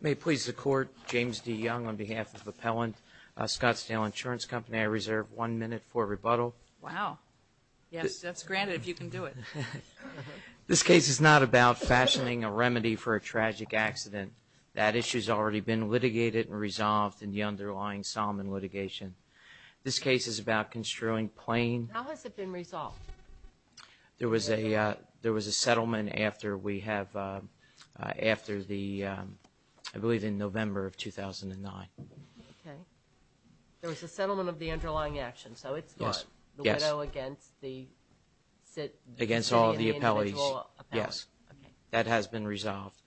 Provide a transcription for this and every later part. May it please the Court, James D. Young on behalf of Appellant Scottsdale Insurance Company, I reserve one minute for rebuttal. Wow. Yes, that's granted if you can do it. This case is not about fashioning a remedy for a tragic accident. That issue's already been litigated and resolved in the underlying Solomon litigation. This case is about construing plain- How has it been resolved? There was a settlement after we have, after the, I believe in November of 2009. Okay. There was a settlement of the underlying action, so it's- Yes, yes. The widow against the- Against all of the appellees. The individual appellant. Yes. Okay. That has been resolved.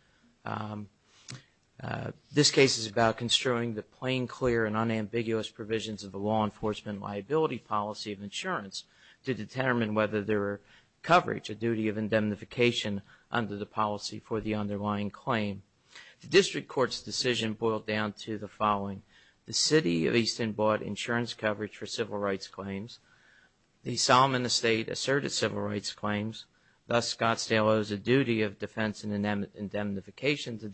This case is about construing the plain, clear, and unambiguous provisions of the law enforcement liability policy of insurance to determine whether there were coverage, a duty of indemnification under the policy for the underlying claim. The district court's decision boiled down to the following. The City of Easton bought insurance coverage for civil rights claims. The Solomon estate asserted civil rights claims. Thus, Scottsdale owes a duty of defense and indemnification to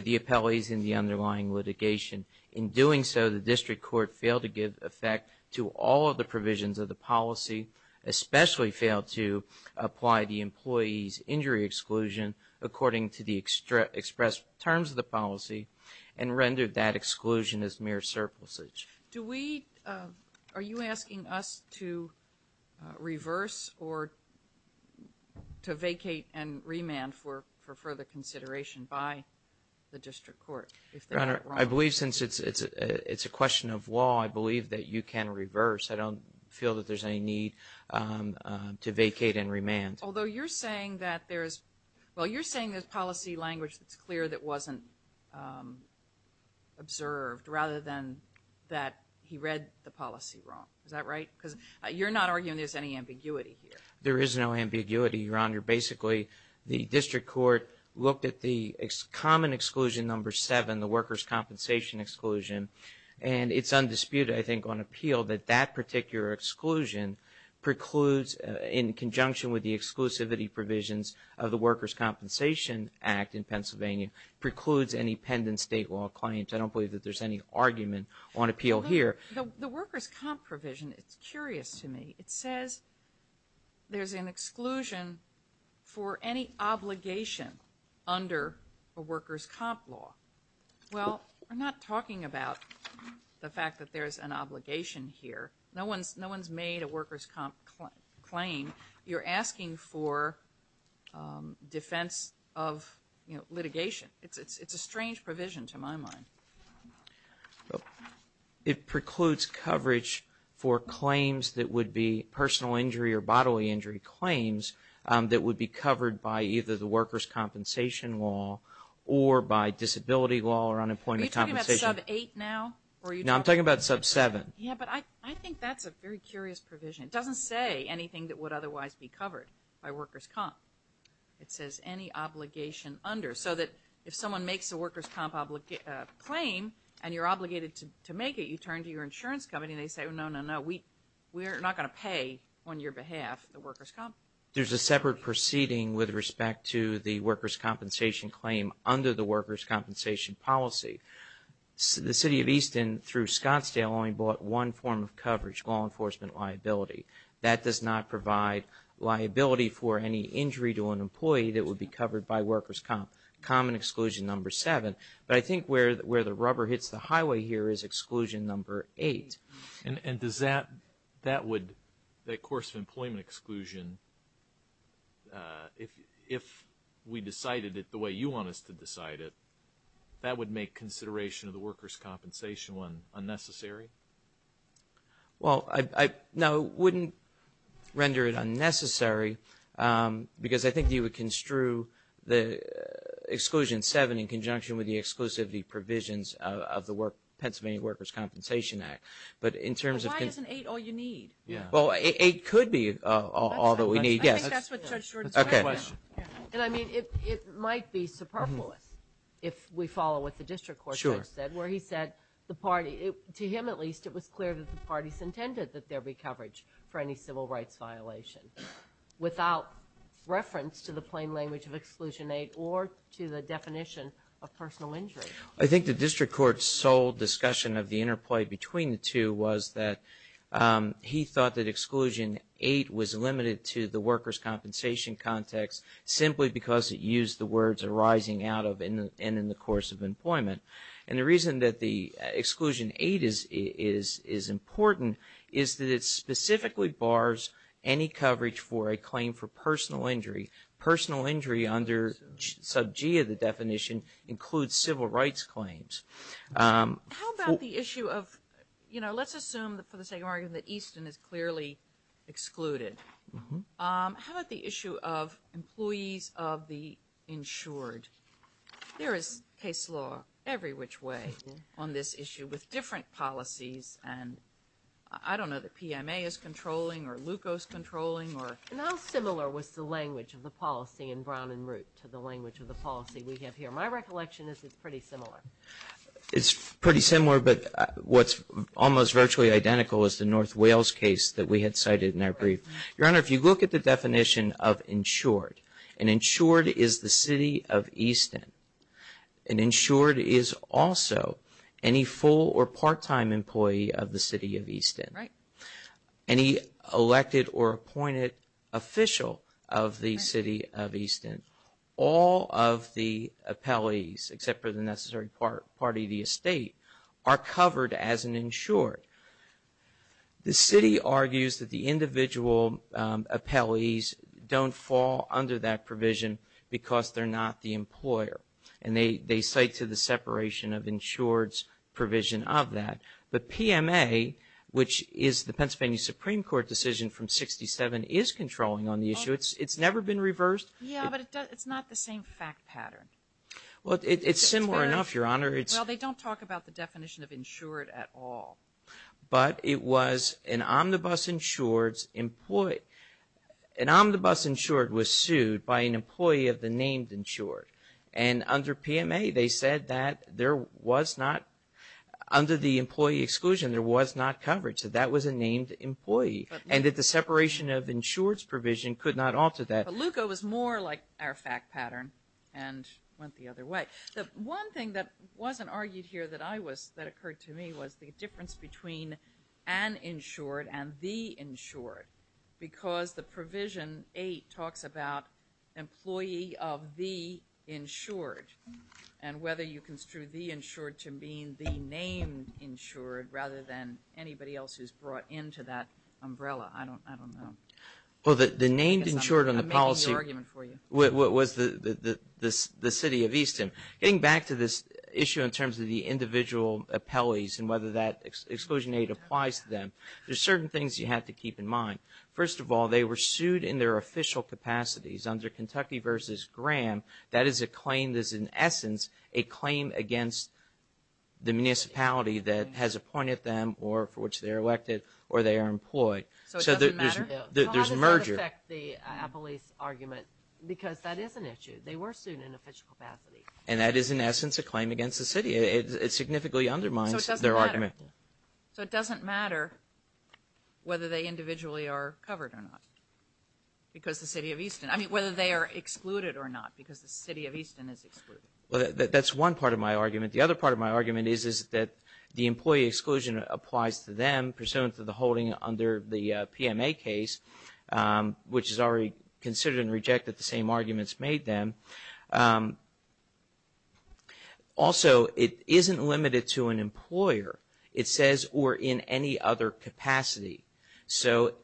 the appellees in the underlying litigation. In doing so, the district court failed to give effect to all of the provisions of the policy, especially failed to apply the employee's injury exclusion according to the expressed terms of the policy and rendered that exclusion as mere surplusage. Do we- Are you asking us to reverse or to vacate and remand for further consideration by the district court? Your Honor, I believe since it's a question of law, I believe that you can reverse. I don't feel that there's any need to vacate and remand. Although you're saying that there's- Well, you're saying there's policy language that's clear that wasn't observed rather than that he read the policy wrong. Is that right? Because you're not arguing there's any ambiguity here. There is no ambiguity, Your Honor. Basically, the district court looked at the common exclusion number seven, the workers' compensation exclusion, and it's undisputed, I think, on appeal that that particular exclusion precludes, in conjunction with the exclusivity provisions of the Workers' Compensation Act in Pennsylvania, precludes any pendent state law claims. I don't believe that there's any argument on appeal here. The workers' comp provision, it's curious to me. It says there's an exclusion for any obligation under a workers' comp law. Well, we're not talking about the fact that there's an obligation here. No one's made a workers' comp claim. You're asking for defense of litigation. It's a strange provision to my mind. It precludes coverage for claims that would be personal injury or bodily injury claims that would be covered by either the workers' compensation law or by disability law or unemployment compensation. Are you talking about sub-8 now? No, I'm talking about sub-7. Yeah, but I think that's a very curious provision. It doesn't say anything that would otherwise be covered by workers' comp. It says any obligation under, so that if someone makes a workers' comp claim and you're obligated to make it, you turn to your insurance company and they say, no, no, no, we're not going to pay on your behalf the workers' comp. There's a separate proceeding with respect to the workers' compensation claim under the workers' compensation policy. The city of Easton, through Scottsdale, only bought one form of coverage, law enforcement liability. That does not provide liability for any injury to an employee that would be covered by workers' comp. Common exclusion number 7. But I think where the rubber hits the highway here is exclusion number 8. And does that, that would, that course of employment exclusion, if we decided it the way you want us to decide it, that would make consideration of the workers' compensation one unnecessary? Well, no, it wouldn't render it unnecessary because I think you would construe the exclusion 7 in conjunction with the exclusivity provisions of the Pennsylvania Workers' Compensation Act. But why isn't 8 all you need? Well, 8 could be all that we need, yes. I think that's what Judge Shorten said. And, I mean, it might be superfluous if we follow what the district court judge said where he said the party, to him at least, it was clear that the parties intended that there be coverage for any civil rights violation without reference to the plain language of exclusion 8 or to the definition of personal injury. I think the district court's sole discussion of the interplay between the two was that he thought that exclusion 8 was limited to the workers' compensation context simply because it used the words arising out of and in the course of employment. And the reason that the exclusion 8 is important is that it specifically bars any coverage for a claim for personal injury. Personal injury under sub G of the definition includes civil rights claims. How about the issue of, you know, let's assume, for the sake of argument, that Easton is clearly excluded. How about the issue of employees of the insured? There is case law every which way on this issue with different policies and I don't know that PMA is controlling or LUCO is controlling. And how similar was the language of the policy in Brown and Root to the language of the policy we have here? My recollection is it's pretty similar. It's pretty similar, but what's almost virtually identical is the North Wales case that we had cited in our brief. Your Honor, if you look at the definition of insured, an insured is the city of Easton. An insured is also any full or part-time employee of the city of Easton. Right. Any elected or appointed official of the city of Easton. All of the appellees, except for the necessary part of the estate, are covered as an insured. The city argues that the individual appellees don't fall under that provision because they're not the employer. And they cite to the separation of insureds provision of that. But PMA, which is the Pennsylvania Supreme Court decision from 1967, is controlling on the issue. It's never been reversed. Yeah, but it's not the same fact pattern. Well, it's similar enough, Your Honor. Well, they don't talk about the definition of insured at all. But it was an omnibus insured's employee. An omnibus insured was sued by an employee of the named insured. And under PMA, they said that there was not, under the employee exclusion, there was not coverage. So that was a named employee. And that the separation of insured's provision could not alter that. But LUCA was more like our fact pattern and went the other way. The one thing that wasn't argued here that occurred to me was the difference between an insured and the insured. Because the provision 8 talks about employee of the insured. And whether you construe the insured to mean the named insured rather than anybody else who's brought into that umbrella. I don't know. Well, the named insured on the policy. I'm making the argument for you. What was the city of Easton. Getting back to this issue in terms of the individual appellees and whether that exclusion aid applies to them. There's certain things you have to keep in mind. First of all, they were sued in their official capacities under Kentucky v. Graham. That is a claim that's in essence a claim against the municipality that has appointed them or for which they are elected or they are employed. So it doesn't matter? There's a merger. I respect the appellee's argument because that is an issue. They were sued in official capacity. And that is in essence a claim against the city. It significantly undermines their argument. So it doesn't matter. So it doesn't matter whether they individually are covered or not because the city of Easton. I mean, whether they are excluded or not because the city of Easton is excluded. Well, that's one part of my argument. The other part of my argument is that the employee exclusion applies to them pursuant to the holding under the PMA case, which is already considered and rejected. The same arguments made them. Also, it isn't limited to an employer. It says or in any other capacity. So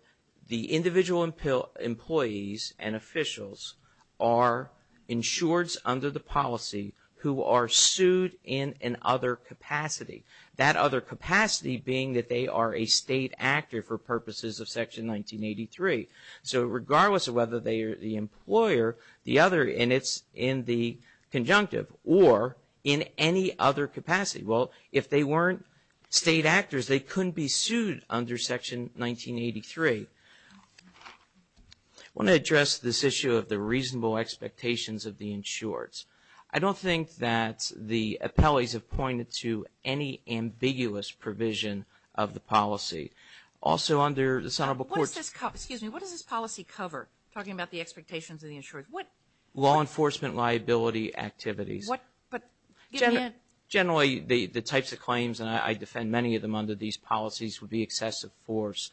the individual employees and officials are insureds under the policy who are sued in an other capacity. That other capacity being that they are a state actor for purposes of Section 1983. So regardless of whether they are the employer, the other, and it's in the conjunctive, or in any other capacity. Well, if they weren't state actors, they couldn't be sued under Section 1983. I want to address this issue of the reasonable expectations of the insureds. I don't think that the appellees have pointed to any ambiguous provision of the policy. Also under the Senate report. What does this policy cover? Talking about the expectations of the insureds. Law enforcement liability activities. Generally, the types of claims, and I defend many of them under these policies, would be excessive force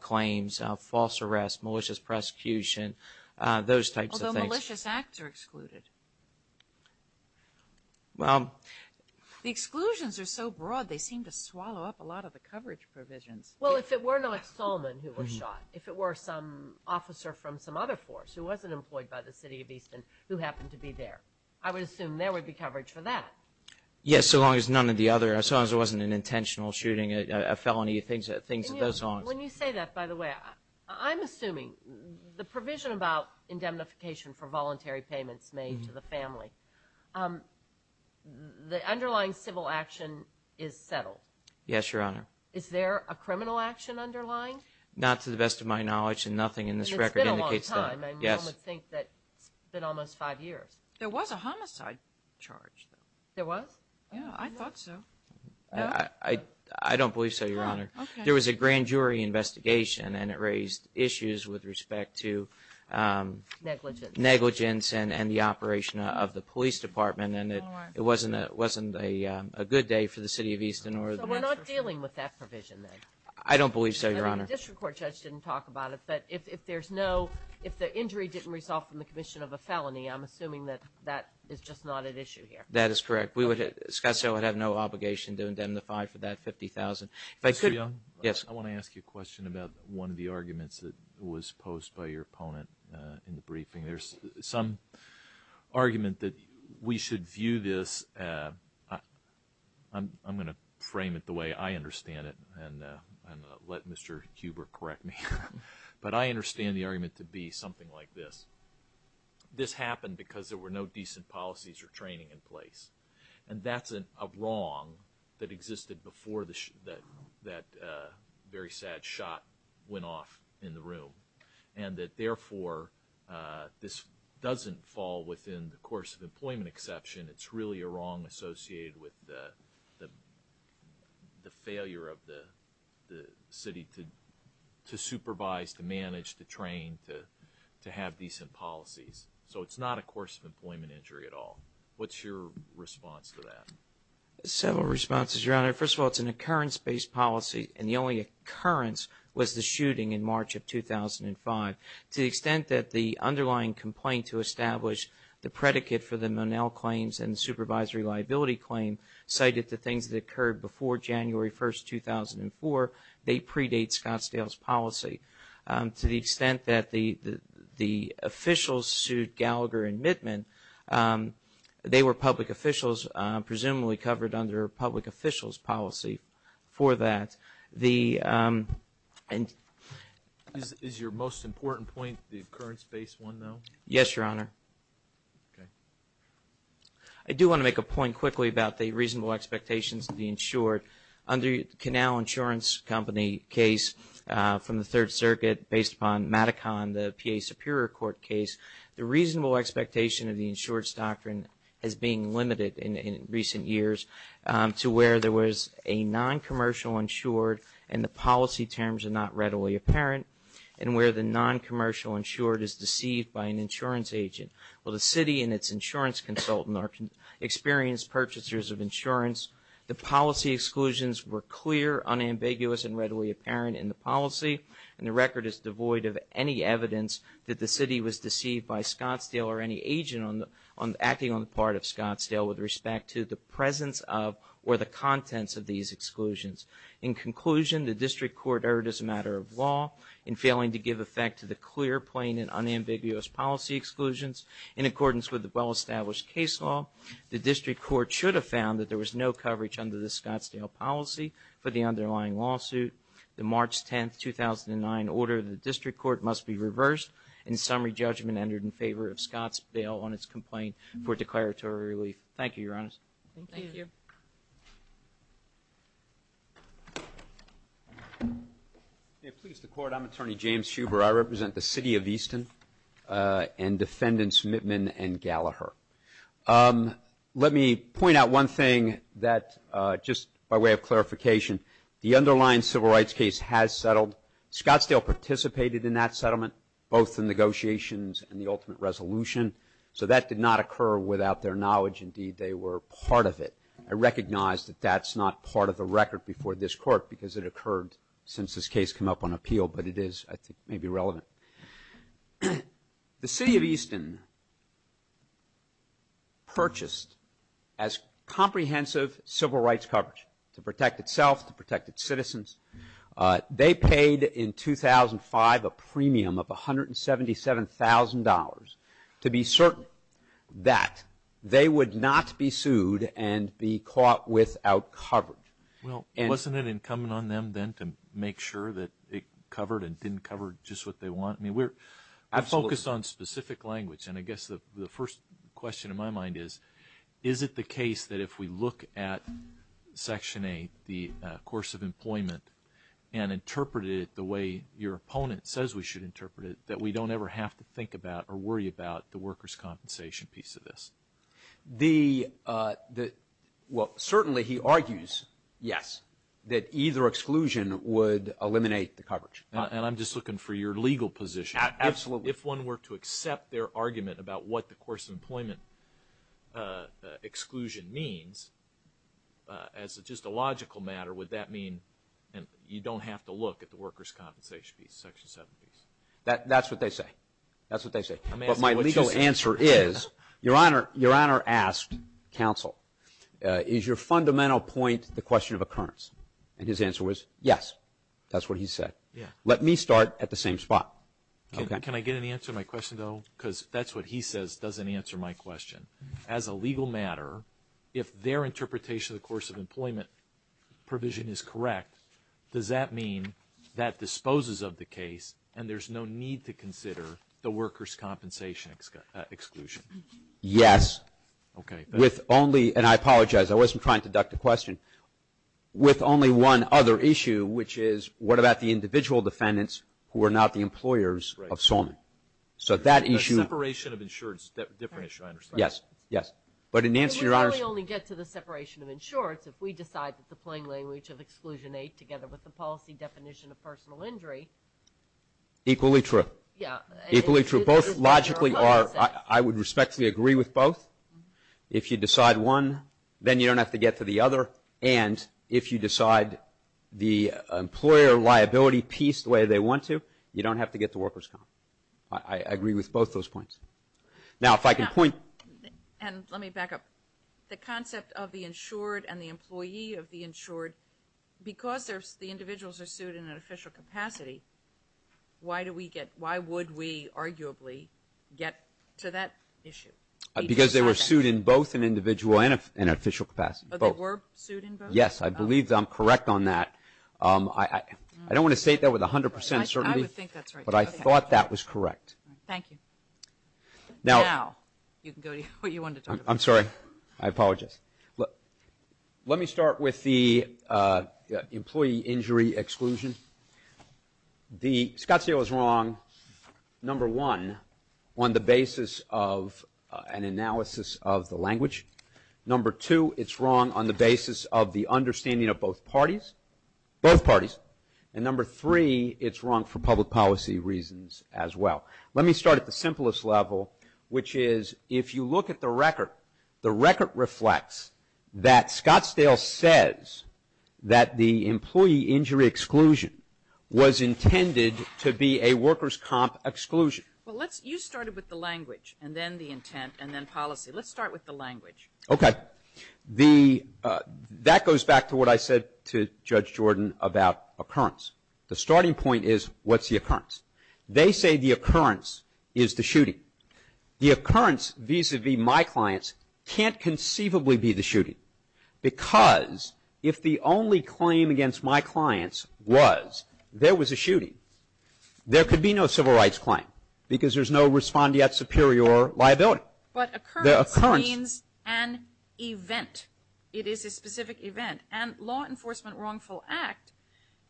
claims, false arrest, malicious prosecution, those types of things. What if malicious acts are excluded? Well. The exclusions are so broad, they seem to swallow up a lot of the coverage provisions. Well, if it weren't Alex Solman who was shot, if it were some officer from some other force who wasn't employed by the city of Easton who happened to be there, I would assume there would be coverage for that. Yes, so long as none of the other, as long as it wasn't an intentional shooting, a felony, things of those sorts. When you say that, by the way, I'm assuming the provision about indemnification for voluntary payments made to the family, the underlying civil action is settled. Yes, Your Honor. Is there a criminal action underlying? Not to the best of my knowledge, and nothing in this record indicates that. It's been a long time, and you would think that it's been almost five years. There was a homicide charge, though. There was? Yeah, I thought so. I don't believe so, Your Honor. There was a grand jury investigation, and it raised issues with respect to negligence and the operation of the police department, and it wasn't a good day for the city of Easton. So we're not dealing with that provision, then? I don't believe so, Your Honor. I mean, the district court judge didn't talk about it, but if there's no, if the injury didn't resolve from the commission of a felony, I'm assuming that that is just not at issue here. That is correct. Scottsdale would have no obligation to indemnify for that $50,000. Mr. Young? Yes. I want to ask you a question about one of the arguments that was posed by your opponent in the briefing. There's some argument that we should view this, I'm going to frame it the way I understand it and let Mr. Huber correct me, but I understand the argument to be something like this. This happened because there were no decent policies or training in place, and that's a wrong that existed before that very sad shot went off in the room, and that, therefore, this doesn't fall within the course of employment exception. It's really a wrong associated with the failure of the city to supervise, to manage, to train, to have decent policies. So it's not a course of employment injury at all. What's your response to that? Several responses, Your Honor. First of all, it's an occurrence-based policy, and the only occurrence was the shooting in March of 2005. To the extent that the underlying complaint to establish the predicate for the Monell claims and the supervisory liability claim cited the things that occurred before January 1, 2004, they predate Scottsdale's policy. To the extent that the officials sued Gallagher and Mittman, they were public officials, presumably covered under public officials' policy for that. Is your most important point the occurrence-based one, though? Yes, Your Honor. I do want to make a point quickly about the reasonable expectations of the insured. Under the Canal Insurance Company case from the Third Circuit based upon Maticon, the PA Superior Court case, the reasonable expectation of the insured's doctrine has been limited in recent years to where there was a non-commercial insured and the policy terms are not readily apparent, and where the non-commercial insured is deceived by an insurance agent. While the city and its insurance consultant are experienced purchasers of insurance, the policy exclusions were clear, unambiguous, and readily apparent in the policy, and the record is devoid of any evidence that the city was deceived by Scottsdale or any agent acting on the part of Scottsdale with respect to the presence of or the contents of these exclusions. In conclusion, the district court erred as a matter of law in failing to give effect to the clear, plain, and unambiguous policy exclusions. In accordance with the well-established case law, the district court should have found that there was no coverage under the Scottsdale policy for the underlying lawsuit. The March 10, 2009, order of the district court must be reversed, and summary judgment entered in favor of Scottsdale on its complaint for declaratory relief. Thank you, Your Honors. Thank you. Please, the court. I'm Attorney James Huber. I represent the city of Easton and defendants Mittman and Gallaher. Let me point out one thing that just by way of clarification, the underlying civil rights case has settled. Scottsdale participated in that settlement, both the negotiations and the ultimate resolution, so that did not occur without their knowledge. Indeed, they were part of it. I recognize that that's not part of the record before this court because it occurred since this case came up on appeal, but it is, I think, maybe relevant. The city of Easton purchased as comprehensive civil rights coverage to protect itself, to protect its citizens. They paid in 2005 a premium of $177,000 to be certain that they would not be sued and be caught without coverage. Well, wasn't it incumbent on them then to make sure that it covered and didn't cover just what they want? I mean, we're focused on specific language, and I guess the first question in my mind is, is it the case that if we look at Section 8, the course of employment, and interpret it the way your opponent says we should interpret it, that we don't ever have to think about or worry about the workers' compensation piece of this? Well, certainly he argues, yes, that either exclusion would eliminate the coverage. And I'm just looking for your legal position. Absolutely. If one were to accept their argument about what the course of employment exclusion means, as just a logical matter, would that mean you don't have to look at the workers' compensation piece, Section 7 piece? That's what they say. That's what they say. But my legal answer is, Your Honor asked counsel, is your fundamental point the question of occurrence? And his answer was, yes, that's what he said. Let me start at the same spot. Can I get an answer to my question, though? Because that's what he says doesn't answer my question. As a legal matter, if their interpretation of the course of employment provision is correct, does that mean that disposes of the case and there's no need to consider the workers' compensation exclusion? Yes. Okay. With only, and I apologize, I wasn't trying to duck the question. With only one other issue, which is, what about the individual defendants who are not the employers of Salman? Right. So that issue. The separation of insured is a different issue, I understand. Yes, yes. But in answer, Your Honor. We only get to the separation of insureds if we decide that the plain language of Exclusion 8, together with the policy definition of personal injury. Equally true. Yes. Equally true. Both logically are, I would respectfully agree with both. If you decide one, then you don't have to get to the other, and if you decide the employer liability piece the way they want to, you don't have to get the workers' comp. I agree with both those points. Now, if I can point. And let me back up. The concept of the insured and the employee of the insured, because the individuals are sued in an official capacity, why do we get, why would we arguably get to that issue? Because they were sued in both an individual and an official capacity. Both. They were sued in both? Yes, I believe I'm correct on that. I don't want to state that with 100% certainty. I would think that's right. But I thought that was correct. Thank you. Now, you can go to what you wanted to talk about. I'm sorry. I apologize. Let me start with the employee injury exclusion. The Scottsdale is wrong, number one, on the basis of an analysis of the language. Number two, it's wrong on the basis of the understanding of both parties. Both parties. And number three, it's wrong for public policy reasons as well. Let me start at the simplest level, which is if you look at the record, the record reflects that Scottsdale says that the employee injury exclusion was intended to be a workers' comp exclusion. Well, let's, you started with the language and then the intent and then policy. Let's start with the language. Okay. The, that goes back to what I said to Judge Jordan about occurrence. The starting point is what's the occurrence? They say the occurrence is the shooting. The occurrence vis-a-vis my clients can't conceivably be the shooting. Because if the only claim against my clients was there was a shooting, there could be no civil rights claim because there's no respondeat superior liability. But occurrence means an event. It is a specific event. And law enforcement wrongful act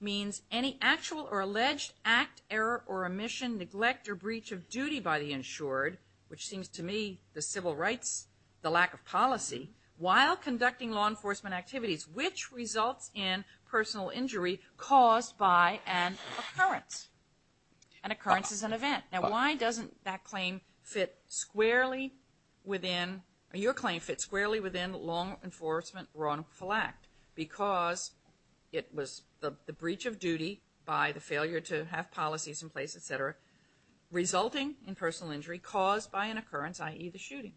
means any actual or alleged act, error, or omission, neglect, or breach of duty by the insured, which seems to me the civil rights, the lack of policy, while conducting law enforcement activities, which results in personal injury caused by an occurrence. An occurrence is an event. Now, why doesn't that claim fit squarely within, your claim fits squarely within law enforcement wrongful act? Because it was the breach of duty by the failure to have policies in place, et cetera, resulting in personal injury caused by an occurrence, i.e., the shooting.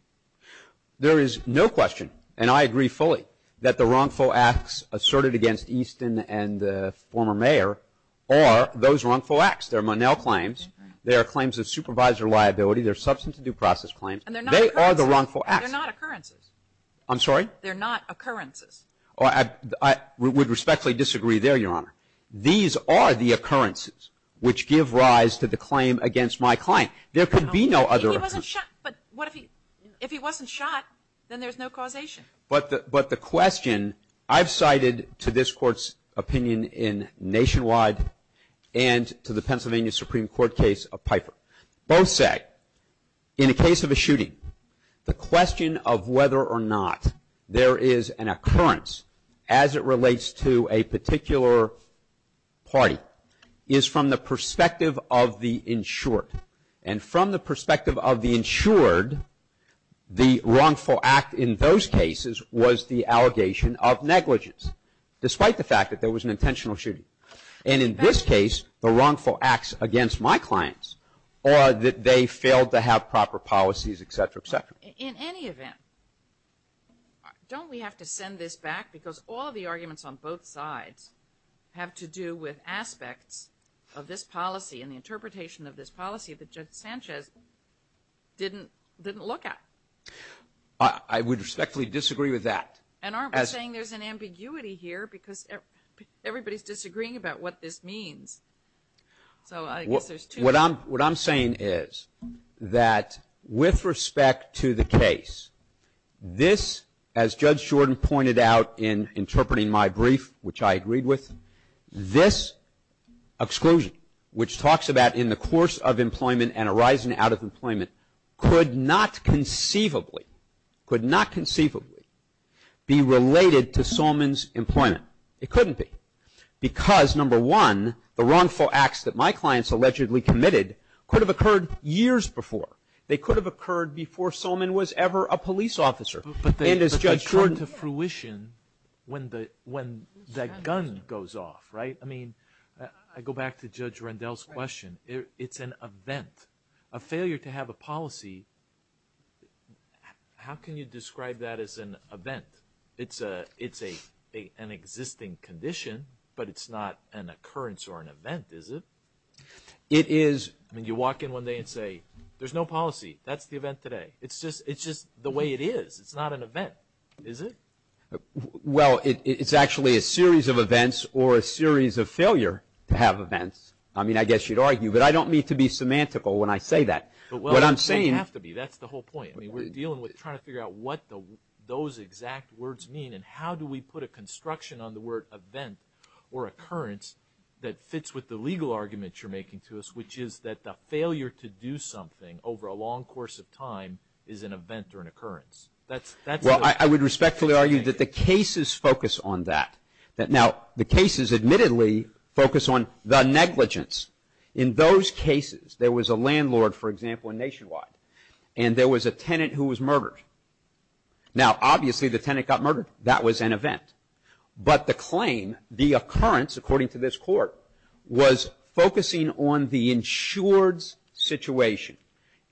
There is no question, and I agree fully, that the wrongful acts asserted against Easton and the former mayor are those wrongful acts. They're Monell claims. They are claims of supervisor liability. They're substantive due process claims. And they're not occurrences. They are the wrongful acts. They're not occurrences. I'm sorry? They're not occurrences. I would respectfully disagree there, Your Honor. These are the occurrences which give rise to the claim against my client. There could be no other. If he wasn't shot, then there's no causation. But the question, I've cited to this Court's opinion in Nationwide and to the Pennsylvania Supreme Court case of Pfeiffer. Both say in a case of a shooting, the question of whether or not there is an occurrence as it relates to a particular party is from the perspective of the insured. And from the perspective of the insured, the wrongful act in those cases was the allegation of negligence, despite the fact that there was an intentional shooting. And in this case, the wrongful acts against my clients are that they failed to have proper policies, et cetera, et cetera. In any event, don't we have to send this back? Because all the arguments on both sides have to do with aspects of this policy and the interpretation of this policy that Judge Sanchez didn't look at. I would respectfully disagree with that. And aren't we saying there's an ambiguity here? Because everybody's disagreeing about what this means. So I guess there's two. What I'm saying is that with respect to the case, this, as Judge Jordan pointed out in interpreting my brief, which I agreed with, this exclusion, which talks about in the course of employment and arising out of employment, could not conceivably, could not conceivably be related to Solman's employment. It couldn't be. Because, number one, the wrongful acts that my clients allegedly committed could have occurred years before. They could have occurred before Solman was ever a police officer. But they occurred to fruition when the gun goes off, right? I mean, I go back to Judge Rendell's question. It's an event. A failure to have a policy, how can you describe that as an event? It's an existing condition, but it's not an occurrence or an event, is it? It is. I mean, you walk in one day and say, there's no policy. That's the event today. It's just the way it is. It's not an event, is it? Well, it's actually a series of events or a series of failure to have events. I mean, I guess you'd argue, but I don't mean to be semantical when I say that. What I'm saying – Well, you don't have to be. That's the whole point. I mean, we're dealing with trying to figure out what those exact words mean and how do we put a construction on the word event or occurrence that fits with the legal argument you're making to us, which is that the failure to do something over a long course of time is an event or an occurrence. Well, I would respectfully argue that the cases focus on that. Now, the cases admittedly focus on the negligence. In those cases, there was a landlord, for example, in Nationwide, and there was a tenant who was murdered. Now, obviously, the tenant got murdered. That was an event. But the claim, the occurrence, according to this court, was focusing on the insured's situation,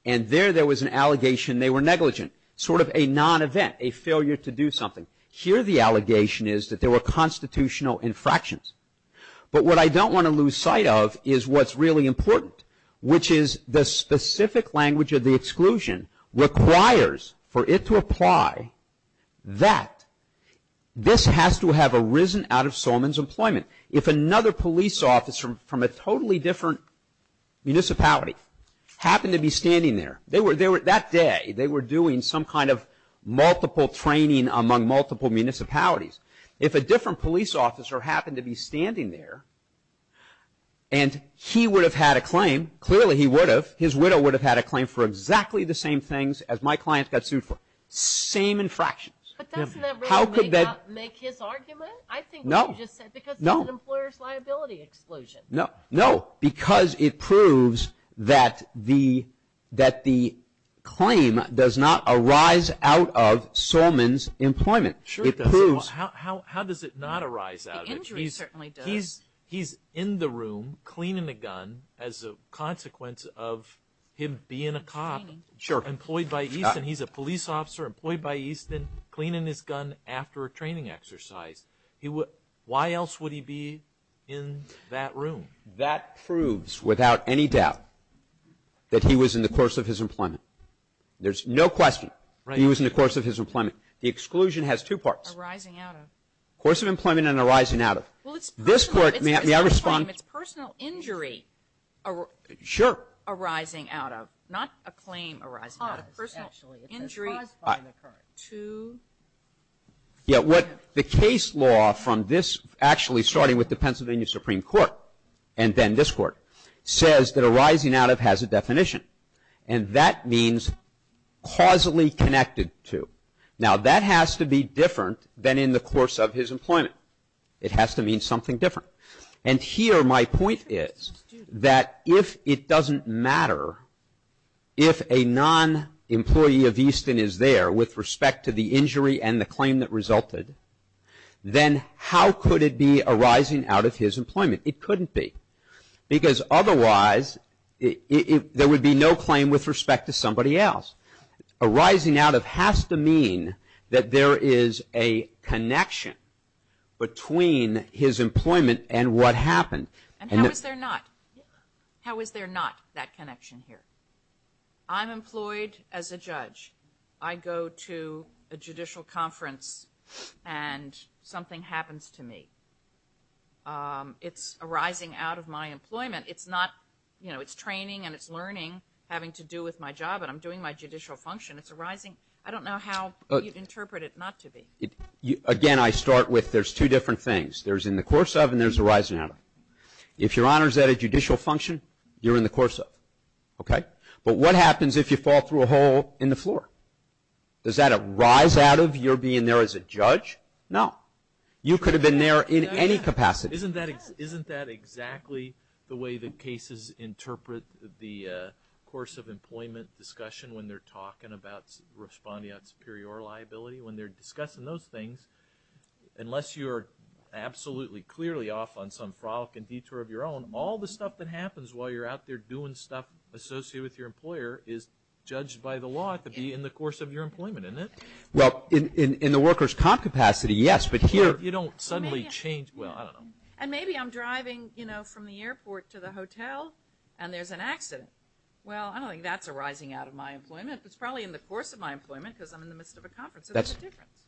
and there there was an allegation they were negligent, sort of a non-event, a failure to do something. Here the allegation is that there were constitutional infractions. But what I don't want to lose sight of is what's really important, which is the specific language of the exclusion requires for it to apply that this has to have arisen out of Solman's employment. If another police officer from a totally different municipality happened to be standing there, that day they were doing some kind of multiple training among multiple municipalities. If a different police officer happened to be standing there and he would have had a claim, clearly he would have, his widow would have had a claim for exactly the same things as my client got sued for, same infractions. But doesn't that really make his argument? I think what you just said, because it's an employer's liability exclusion. No, because it proves that the claim does not arise out of Solman's employment. It proves. How does it not arise out of it? The injury certainly does. He's in the room cleaning a gun as a consequence of him being a cop. Sure. Employed by Easton. He's a police officer employed by Easton cleaning his gun after a training exercise. Why else would he be in that room? That proves without any doubt that he was in the course of his employment. There's no question he was in the course of his employment. The exclusion has two parts. Arising out of. Course of employment and arising out of. Well, it's personal. May I respond? It's personal injury arising out of, not a claim arising out of. Personal injury to. Yeah, what the case law from this actually starting with the Pennsylvania Supreme Court and then this court says that arising out of has a definition. And that means causally connected to. Now, that has to be different than in the course of his employment. It has to mean something different. And here my point is that if it doesn't matter if a non-employee of Easton is there with respect to the injury and the claim that resulted, then how could it be arising out of his employment? It couldn't be. Because otherwise there would be no claim with respect to somebody else. Arising out of has to mean that there is a connection between his employment and what happened. And how is there not? How is there not that connection here? I'm employed as a judge. I go to a judicial conference and something happens to me. It's arising out of my employment. It's not, you know, it's training and it's learning having to do with my job and I'm doing my judicial function. It's arising. I don't know how you'd interpret it not to be. Again, I start with there's two different things. There's in the course of and there's arising out of. If your honor is at a judicial function, you're in the course of. Okay? But what happens if you fall through a hole in the floor? Does that arise out of your being there as a judge? No. You could have been there in any capacity. Isn't that exactly the way the cases interpret the course of employment discussion when they're talking about responding on superior liability? When they're discussing those things, unless you're absolutely clearly off on some frolicking detour of your own, all the stuff that happens while you're out there doing stuff associated with your employer is judged by the law to be in the course of your employment, isn't it? Well, in the worker's comp capacity, yes. But here you don't suddenly change. Well, I don't know. And maybe I'm driving, you know, from the airport to the hotel and there's an accident. Well, I don't think that's arising out of my employment. It's probably in the course of my employment because I'm in the midst of a conference.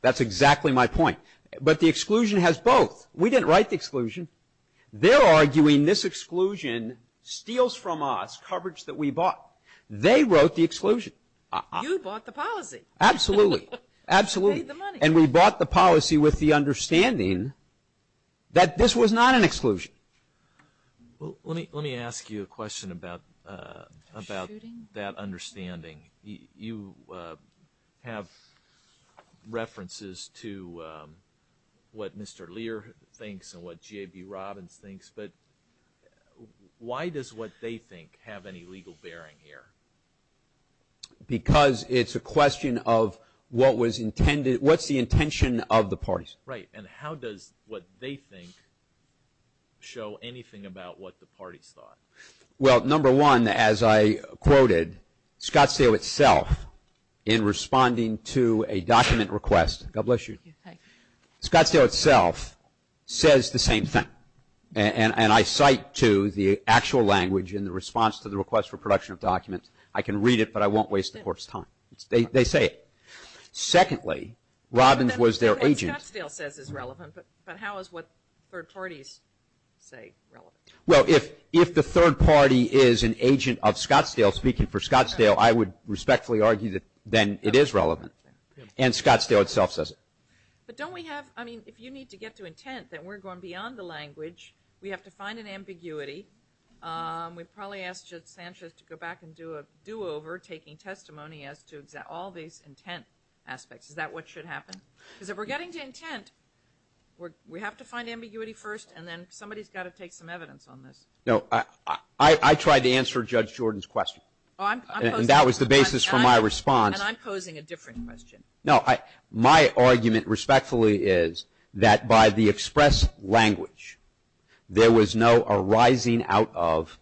That's exactly my point. But the exclusion has both. We didn't write the exclusion. They're arguing this exclusion steals from us coverage that we bought. They wrote the exclusion. You bought the policy. Absolutely. Absolutely. You paid the money. And we bought the policy with the understanding that this was not an exclusion. Well, let me ask you a question about that understanding. You have references to what Mr. Lear thinks and what J.B. Robbins thinks. But why does what they think have any legal bearing here? Because it's a question of what's the intention of the parties. Right. And how does what they think show anything about what the parties thought? Well, number one, as I quoted, Scottsdale itself in responding to a document request, God bless you, Scottsdale itself says the same thing. And I cite to the actual language in the response to the request for production of documents. I can read it, but I won't waste the court's time. They say it. Secondly, Robbins was their agent. What Scottsdale says is relevant, but how is what third parties say relevant? Well, if the third party is an agent of Scottsdale speaking for Scottsdale, I would respectfully argue that then it is relevant. And Scottsdale itself says it. But don't we have – I mean, if you need to get to intent, then we're going beyond the language. We have to find an ambiguity. We've probably asked Sanchez to go back and do a do-over, taking testimony as to all these intent aspects. Is that what should happen? Because if we're getting to intent, we have to find ambiguity first, and then somebody's got to take some evidence on this. No, I tried to answer Judge Jordan's question. And that was the basis for my response. And I'm posing a different question. No, my argument respectfully is that by the express language, there was no arising out of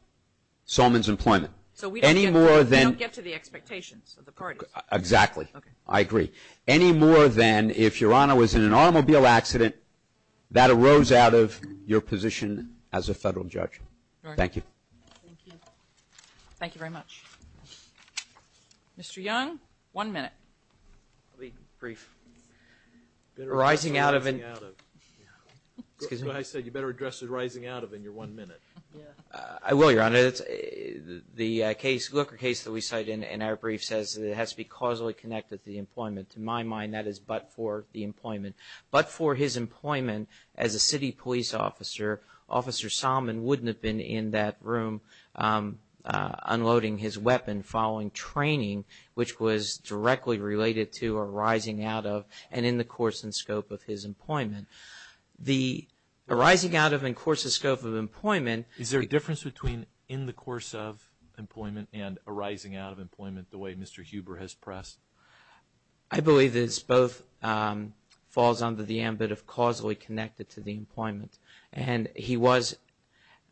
Solman's employment. So we don't get to the expectations of the parties. Exactly. I agree. Any more than if Your Honor was in an automobile accident, that arose out of your position as a federal judge. Thank you. Thank you. Thank you very much. Mr. Young, one minute. I'll be brief. Arising out of an – Arising out of. Excuse me? I said you better address the arising out of in your one minute. I will, Your Honor. The case that we cite in our brief says it has to be causally connected to the employment. To my mind, that is but for the employment. But for his employment as a city police officer, Officer Solman wouldn't have been in that room unloading his weapon following training, which was directly related to arising out of and in the course and scope of his employment. The arising out of and course and scope of employment – in the course of employment and arising out of employment the way Mr. Huber has pressed. I believe this both falls under the ambit of causally connected to the employment. And he was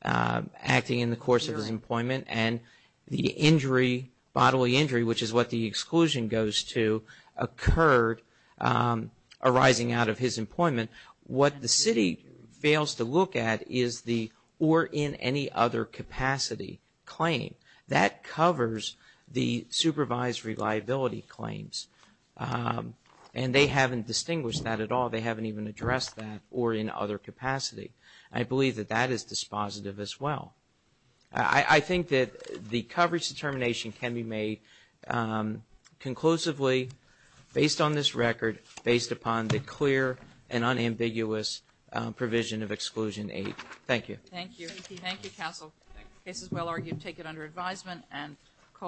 acting in the course of his employment. And the injury, bodily injury, which is what the exclusion goes to, occurred arising out of his employment. What the city fails to look at is the or in any other capacity claim. That covers the supervised reliability claims. And they haven't distinguished that at all. They haven't even addressed that or in other capacity. I believe that that is dispositive as well. I think that the coverage determination can be made conclusively based on this record, based upon the clear and unambiguous provision of Exclusion 8. Thank you.